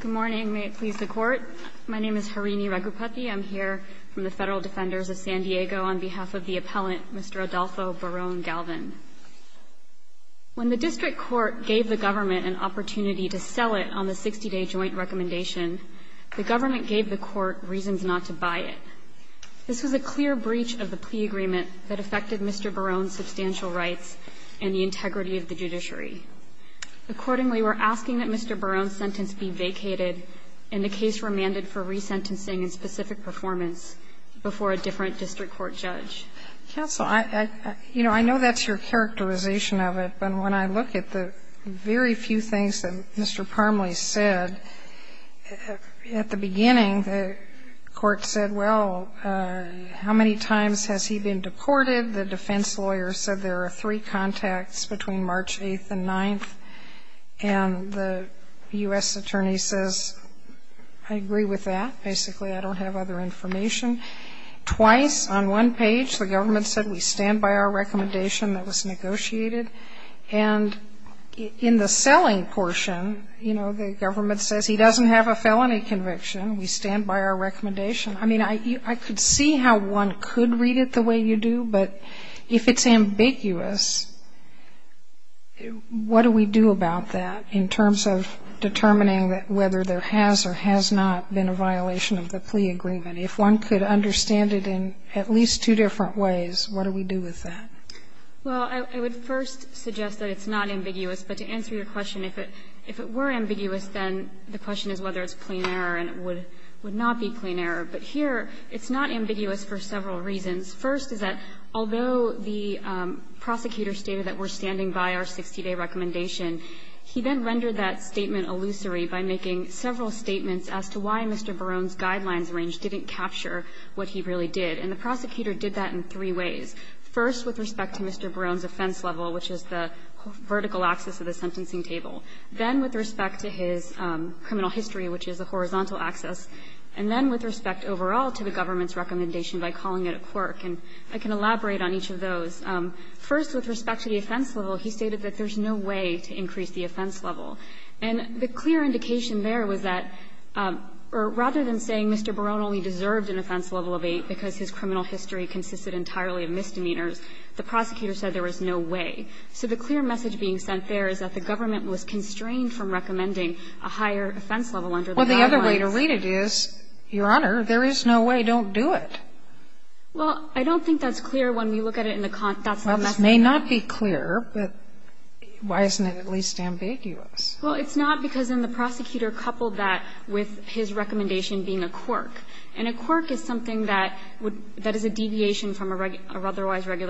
Good morning. May it please the Court. My name is Harini Raghupathy. I'm here from the Federal Defenders of San Diego on behalf of the appellant, Mr. Adolfo Barron-Galvan. When the district court gave the government an opportunity to sell it on the 60-day joint recommendation, the government gave the court reasons not to buy it. This was a clear breach of the plea agreement that affected Mr. Barron's substantial rights and the integrity of the judiciary. Accordingly, we're asking that Mr. Barron's sentence be vacated and the case remanded for resentencing and specific performance before a different district court judge. Counsel, you know, I know that's your characterization of it, but when I look at the very few things that Mr. Parmley said, at the beginning, the court said, well, how many times has he been deported? The defense lawyer said there are three contacts between March 8th and 9th. And the U.S. attorney says, I agree with that. Basically, I don't have other information. Twice, on one page, the government said we stand by our recommendation that was negotiated. And in the selling portion, you know, the government says he doesn't have a felony conviction. We stand by our recommendation. I mean, I could see how one could read it the way you do, but if it's ambiguous, what do we do about that in terms of determining whether there has or has not been a violation of the plea agreement? If one could understand it in at least two different ways, what do we do with that? Well, I would first suggest that it's not ambiguous. But to answer your question, if it were ambiguous, then the question is whether it's plain error and it would not be plain error. But here, it's not ambiguous for several reasons. First is that although the prosecutor stated that we're standing by our 60-day recommendation, he then rendered that statement illusory by making several statements as to why Mr. Barone's guidelines range didn't capture what he really did. And the prosecutor did that in three ways, first with respect to Mr. Barone's offense level, which is the vertical axis of the sentencing table, then with respect to his criminal history, which is the horizontal axis, and then with respect overall to the government's recommendation by calling it a quirk. And I can elaborate on each of those. First, with respect to the offense level, he stated that there's no way to increase the offense level. And the clear indication there was that, or rather than saying Mr. Barone only deserved an offense level of 8 because his criminal history consisted entirely of misdemeanors, the prosecutor said there was no way. So the clear message being sent there is that the government was constrained from recommending a higher offense level under the guidelines. Sotomayor Well, the other way to read it is, Your Honor, there is no way, don't do it. Well, I don't think that's clear when you look at it in the context of the message. Sotomayor Well, this may not be clear, but why isn't it at least ambiguous? Well, it's not because then the prosecutor coupled that with his recommendation being a quirk. And a quirk is something that would be a deviation from a regular or otherwise What he's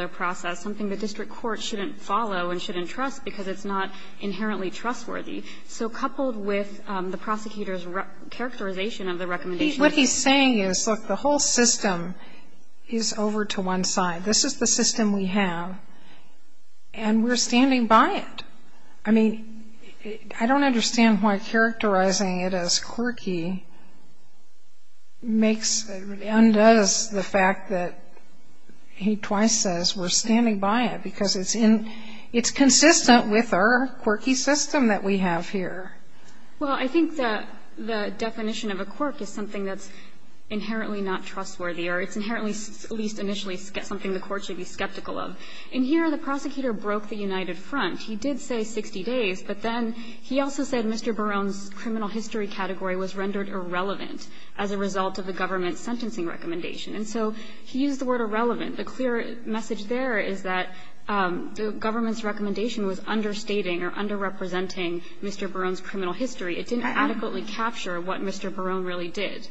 saying is, look, the whole system is over to one side. This is the system we have, and we're standing by it. I mean, I don't understand why characterizing it as quirky makes, undoes the fact that he twice says we're standing by it, because it's implausible that a quirk It's consistent with our quirky system that we have here. Sotomayor Well, I think that the definition of a quirk is something that's inherently not trustworthy, or it's inherently, at least initially, something the Court should be skeptical of. In here, the prosecutor broke the United Front. He did say 60 days, but then he also said Mr. Barone's criminal history category was rendered irrelevant as a result of the government's sentencing recommendation. And so he used the word irrelevant. The clear message there is that the government's recommendation was understating or underrepresenting Mr. Barone's criminal history. It didn't adequately capture what Mr. Barone really did.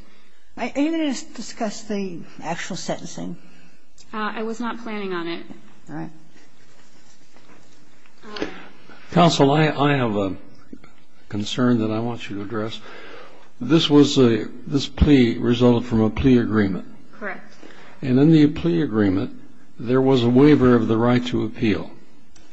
Ginsburg Are you going to discuss the actual sentencing? Harrington I was not planning on it. Ginsburg All right. Kennedy Counsel, I have a concern that I want you to address. This was a this plea resulted from a plea agreement. Harrington Correct. Kennedy And in the plea agreement, there was a waiver of the right to appeal.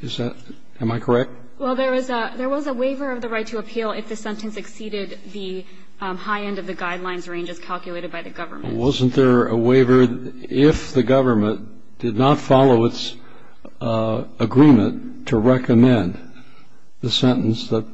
Is that am I correct? Harrington Well, there was a waiver of the right to appeal if the sentence exceeded the high end of the guidelines range as calculated by the government. Kennedy Wasn't there a waiver if the government did not follow its agreement to recommend the sentence that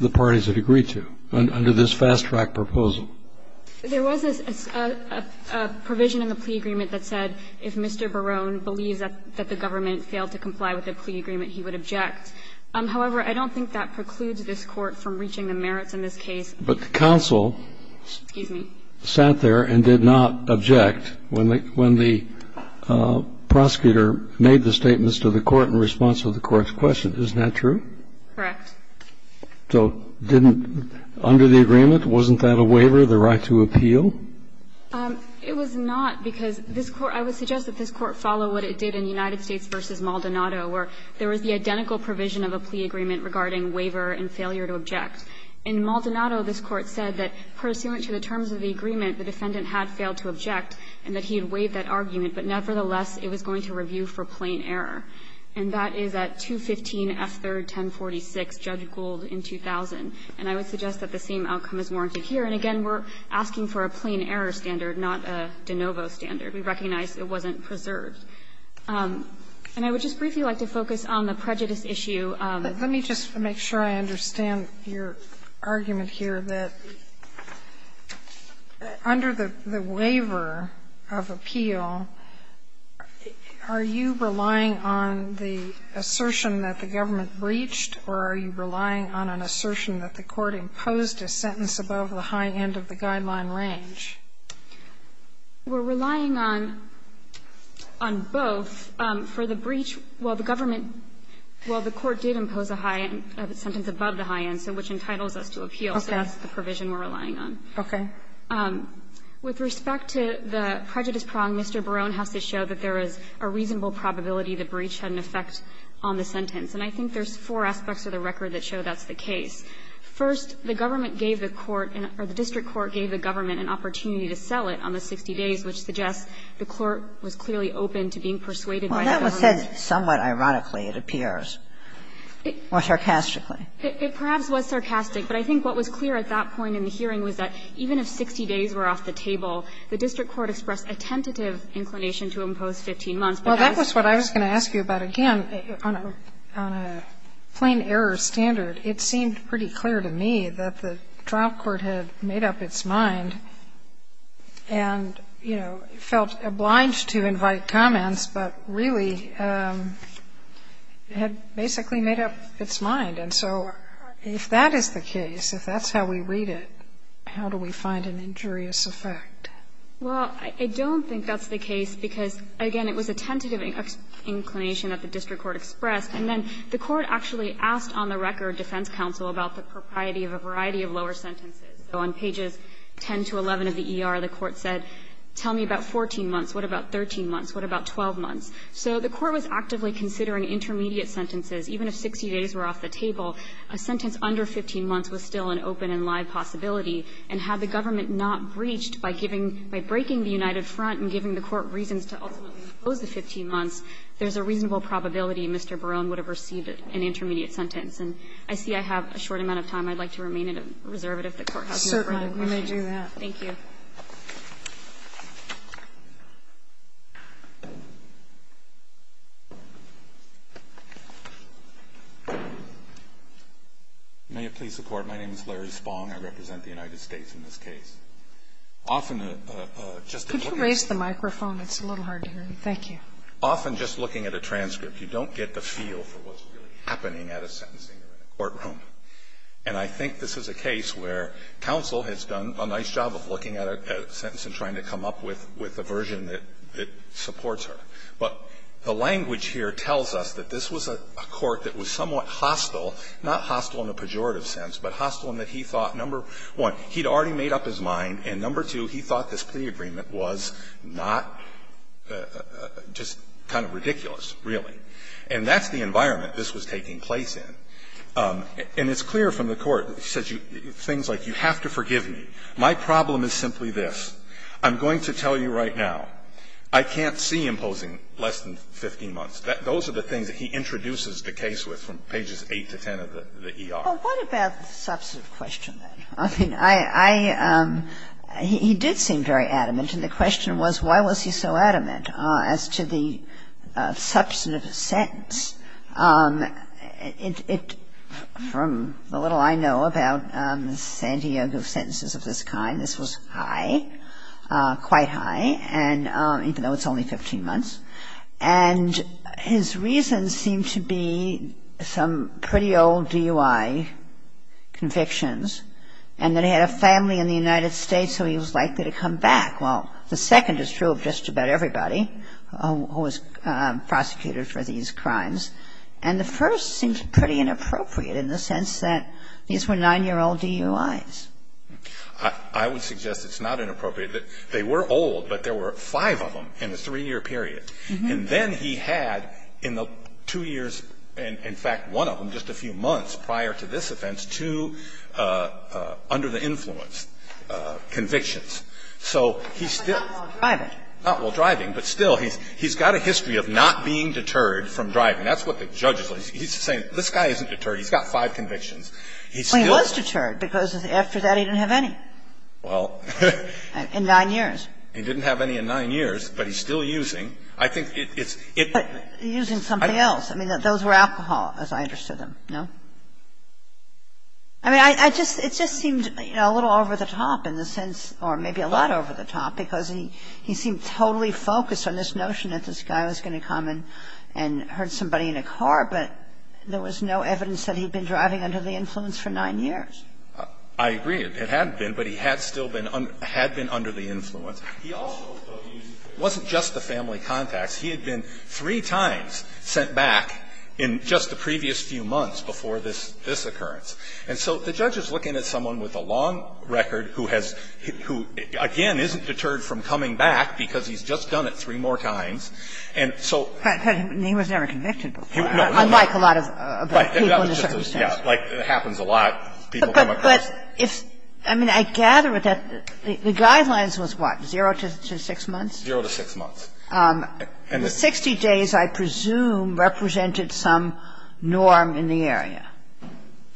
the parties had agreed to under this fast-track proposal? Harrington There was a provision in the plea agreement that said if Mr. Barone believes that the government failed to comply with the plea agreement, he would object. However, I don't think that precludes this Court from reaching the merits in this case. Kennedy But the counsel sat there and did not object when the prosecutor made the statements to the Court in response to the Court's question. Isn't that true? Harrington Correct. Kennedy So didn't under the agreement, wasn't that a waiver, the right to appeal? Harrington It was not, because this Court – I would suggest that this Court followed what it did in United States v. Maldonado, where there was the identical provision of a plea agreement regarding waiver and failure to object. In Maldonado, this Court said that pursuant to the terms of the agreement, the defendant had failed to object and that he had waived that argument, but nevertheless it was going to review for plain error. And that is at 215F3-1046, Judge Gould, in 2000. And I would suggest that the same outcome is warranted here. And again, we're asking for a plain error standard, not a de novo standard. We recognize it wasn't preserved. And I would just briefly like to focus on the prejudice issue of the plaintiff's case. Sotomayor Let me just make sure I understand your argument here, that under the waiver of appeal, are you relying on the assertion that the government breached, or are you relying on an assertion that the Court imposed a sentence above the high end of the guideline range? Harrington We're relying on both. For the breach, while the government – while the Court did impose a high end, a sentence above the high end, so which entitles us to appeal. That's the provision we're relying on. Sotomayor Okay. Harrington With respect to the prejudice prong, Mr. Barone has to show that there is a reasonable probability the breach had an effect on the sentence. And I think there's four aspects of the record that show that's the case. First, the government gave the court, or the district court gave the government an opportunity to sell it on the 60 days, which suggests the court was clearly open to being persuaded by the government. Kagan Well, that was said somewhat ironically, it appears, or sarcastically. Harrington It perhaps was sarcastic, but I think what was clear at that point in the hearing was that even if 60 days were off the table, the district court expressed a tentative inclination to impose 15 months. But that was the case. Sotomayor Well, that was what I was going to ask you about again. On a plain error standard, it seemed pretty clear to me that the trial court had made up its mind and, you know, felt obliged to invite comments, but really had basically made up its mind. And so if that is the case, if that's how we read it, how do we find an injurious effect? Harrington Well, I don't think that's the case, because, again, it was a tentative inclination that the district court expressed. And then the court actually asked on the record defense counsel about the propriety of a variety of lower sentences. So on pages 10 to 11 of the ER, the court said, tell me about 14 months, what about 13 months, what about 12 months? So the court was actively considering intermediate sentences. Even if 60 days were off the table, a sentence under 15 months was still an open and live possibility. And had the government not breached by giving by breaking the United Front and giving the court reasons to ultimately impose the 15 months, there's a reasonable probability Mr. Barone would have received an intermediate sentence. And I see I have a short amount of time. I'd like to remain in a reservative if the Court has no further questions. Sotomayor Certainly, we may do that. Harrington Thank you. May it please the Court, my name is Larry Spong, I represent the United States in this case. Often just a look at this. Sotomayor Could you raise the microphone? It's a little hard to hear me. Thank you. Harrington Often just looking at a transcript, you don't get the feel for what's really happening at a sentencing or in a courtroom. And I think this is a case where counsel has done a nice job of looking at a sentence and trying to come up with a version that supports her. But the language here tells us that this was a court that was somewhat hostile, not hostile in a pejorative sense, but hostile in that he thought, number one, he'd already made up his mind, and number two, he thought this plea agreement was not just kind of ridiculous, really. And that's the environment this was taking place in. And it's clear from the court, he says things like, you have to forgive me. My problem is simply this. I'm going to tell you right now, I can't see imposing less than 15 months. Those are the things that he introduces the case with from pages 8 to 10 of the ER. Kagan What about the substantive question, then? I mean, I – he did seem very adamant, and the question was, why was he so adamant as to the substantive sentence? It – from the little I know about Santiago's sentences of this kind, this was high, quite high, and even though it's only 15 months. And his reasons seem to be some pretty old DUI convictions, and that he had a family in the United States, so he was likely to come back. Well, the second is true of just about everybody who was prosecuted for these crimes. And the first seems pretty inappropriate in the sense that these were 9-year-old DUIs. Carvin I would suggest it's not inappropriate. They were old, but there were five of them in a three-year period. And then he had in the two years, in fact, one of them, just a few months prior to this offense, two under-the-influence convictions. So he's still – But not while driving. Not while driving, but still, he's got a history of not being deterred from driving. That's what the judge is like. He's saying, this guy isn't deterred. He's got five convictions. He still – Well, he was deterred, because after that, he didn't have any. Well – In 9 years. He didn't have any in 9 years, but he's still using. I think it's – But using something else. I mean, those were alcohol, as I understood them. No? I mean, I just – it just seemed, you know, a little over the top in the sense – or maybe a lot over the top, because he seemed totally focused on this notion that this guy was going to come and hurt somebody in a car, but there was no evidence that he'd been driving under the influence for 9 years. I agree. It had been, but he had still been – had been under the influence. He also used – it wasn't just the family contacts. He had been three times sent back in just the previous few months before this occurrence. And so the judge is looking at someone with a long record who has – who, again, isn't deterred from coming back, because he's just done it three more times. And so – But he was never convicted before, unlike a lot of people in the circumstances. Right. Like, it happens a lot. People come across. But if – I mean, I gather that the guidelines was what, 0 to 6 months? 0 to 6 months. The 60 days, I presume, represented some norm in the area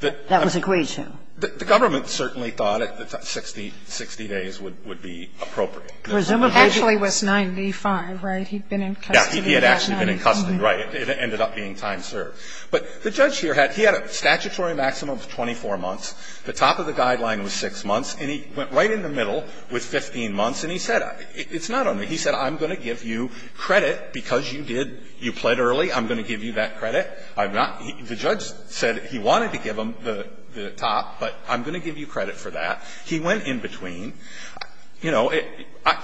that was agreed to. The government certainly thought that 60 days would be appropriate. Presumably. Actually, it was 95, right? He'd been in custody. Yeah. He had actually been in custody, right. It ended up being time served. But the judge here had – he had a statutory maximum of 24 months. The top of the guideline was 6 months. And he went right in the middle with 15 months, and he said – it's not only – if you credit, because you did – you pled early, I'm going to give you that credit. I'm not – the judge said he wanted to give him the top, but I'm going to give you credit for that. He went in between. You know,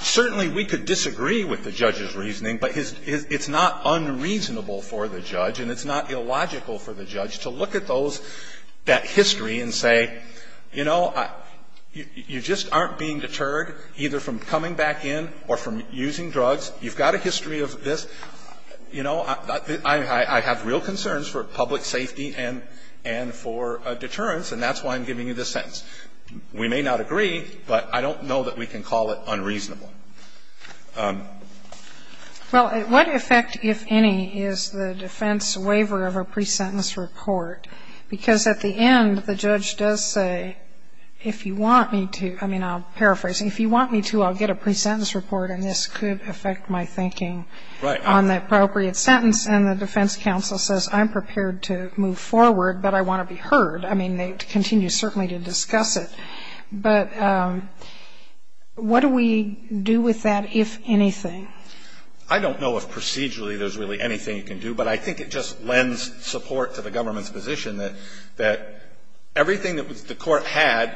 certainly we could disagree with the judge's reasoning, but his – it's not unreasonable for the judge, and it's not illogical for the judge to look at those – that history and say, you know, you just aren't being deterred either from coming back in or from using drugs. You've got a history of this. You know, I have real concerns for public safety and for deterrence, and that's why I'm giving you this sentence. We may not agree, but I don't know that we can call it unreasonable. Well, what effect, if any, is the defense waiver of a presentence report? Because at the end, the judge does say, if you want me to – I mean, I'll paraphrase. If you want me to, I'll get a presentence report, and this could affect my thinking on the appropriate sentence. And the defense counsel says, I'm prepared to move forward, but I want to be heard. I mean, they continue, certainly, to discuss it. But what do we do with that, if anything? I don't know if procedurally there's really anything you can do, but I think it just lends support to the government's position that everything that the court had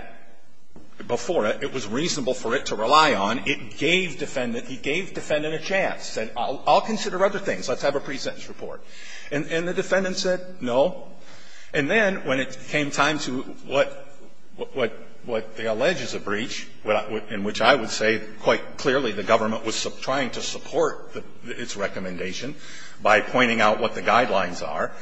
before it, it was reasonable for it to rely on. It gave defendant – it gave defendant a chance. It said, I'll consider other things. Let's have a presentence report. And the defendant said no. And then, when it came time to what they allege is a breach, in which I would say, quite clearly, the government was trying to support its recommendation by pointing out what the guidelines are.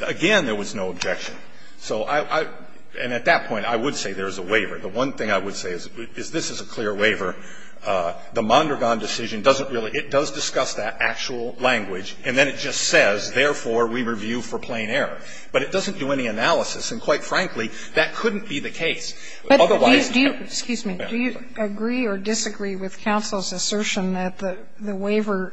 Again, there was no objection. So I – and at that point, I would say there is a waiver. The one thing I would say is this is a clear waiver. The Mondragon decision doesn't really – it does discuss that actual language, and then it just says, therefore, we review for plain error. But it doesn't do any analysis, and, quite frankly, that couldn't be the case. Otherwise you have to go back and review it. Sotomayor, did you mention that the waiver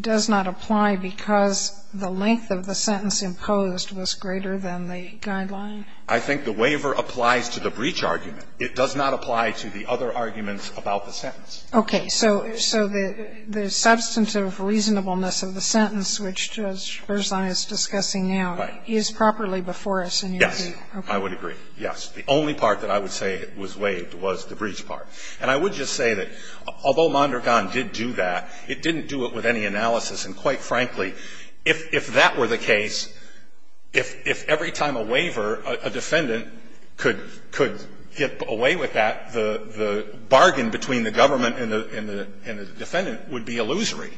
does not apply because the length of the sentence imposed was greater than the guideline? I think the waiver applies to the breach argument. It does not apply to the other arguments about the sentence. Okay. So – so the substantive reasonableness of the sentence, which Judge Versailles is discussing now, is properly before us in your view? Yes. I would agree. Yes. The only part that I would say was waived was the breach part. And I would just say that although Mondragon did do that, it didn't do it with any analysis, and, quite frankly, if that were the case, if every time a waiver, a defendant could – could get away with that, the – the bargain between the government and the – and the defendant would be illusory,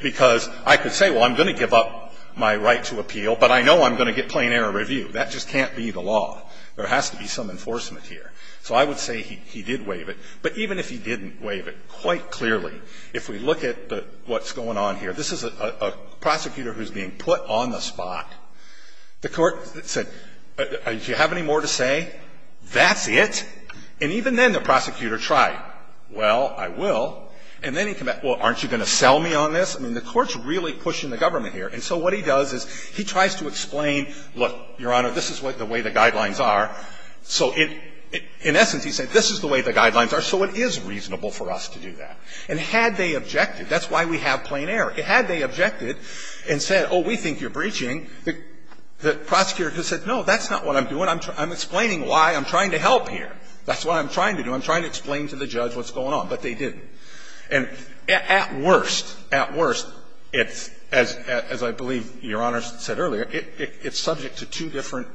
because I could say, well, I'm going to give up my right to appeal, but I know I'm going to get plain error review. That just can't be the law. There has to be some enforcement here. So I would say he – he did waive it. But even if he didn't waive it, quite clearly, if we look at the – what's going on here, this is a – a prosecutor who's being put on the spot. The court said, do you have any more to say? That's it? And even then the prosecutor tried. Well, I will. And then he came back, well, aren't you going to sell me on this? I mean, the court's really pushing the government here. And so what he does is he tries to explain, look, Your Honor, this is what the way the guidelines are. So in – in essence, he said, this is the way the guidelines are, so it is reasonable for us to do that. And had they objected, that's why we have plain error. Had they objected and said, oh, we think you're breaching, the – the prosecutor could have said, no, that's not what I'm doing, I'm explaining why, I'm trying to help here, that's what I'm trying to do, I'm trying to explain to the judge what's going on, but they didn't. And at worst, at worst, it's – as I believe Your Honor said earlier, it's subject to two different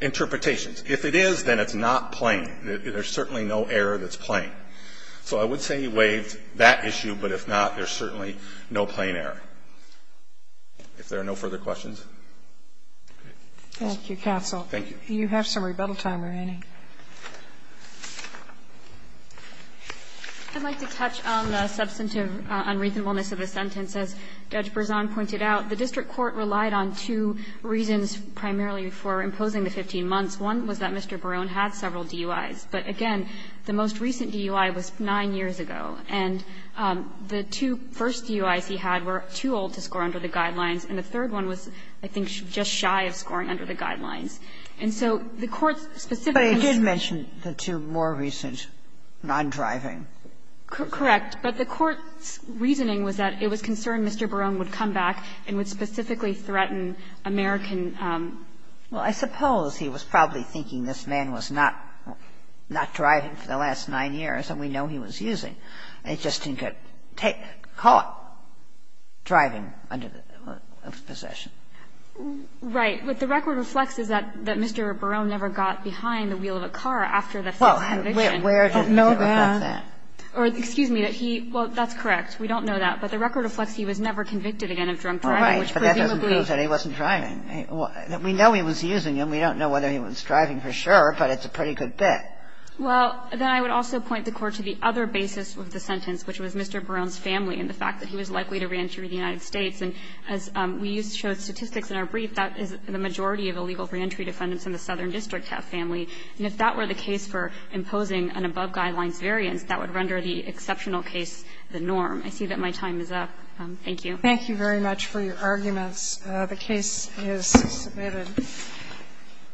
interpretations. If it is, then it's not plain. There's certainly no error that's plain. So I would say he waived that issue, but if not, there's certainly no plain error. If there are no further questions. Thank you, counsel. Thank you. Do you have some rebuttal time remaining? I'd like to touch on the substantive unreasonableness of the sentence. As Judge Berzon pointed out, the district court relied on two reasons primarily for imposing the 15 months. One was that Mr. Barone had several DUIs, but again, the most recent DUI was 9 years ago, and the two first DUIs he had were too old to score under the Guidelines, and the third one was, I think, just shy of scoring under the Guidelines. And so the court's specific answer was that the court's reasoning was that it was concerned Mr. Barone would come back and would specifically threaten American -- Well, I suppose he was probably thinking this man was not driving for the last 9 years, and we know he was using. It just didn't get caught driving under the possession. Right. What the record reflects is that Mr. Barone never got behind the wheel of a car after the first conviction. Well, where did he ever get that? Or, excuse me, that he --- well, that's correct. We don't know that. But the record reflects he was never convicted again of drunk driving, which presumably -- Right. But that doesn't prove that he wasn't driving. We know he was using him. We don't know whether he was driving for sure, but it's a pretty good bet. Well, then I would also point the Court to the other basis of the sentence, which was Mr. Barone's family and the fact that he was likely to re-entry to the United States. And as we used to show statistics in our brief, that is the majority of illegal re-entry defendants in the Southern District have family. And if that were the case for imposing an above-Guidelines variance, that would render the exceptional case the norm. I see that my time is up. Thank you. Thank you very much for your arguments. The case is submitted.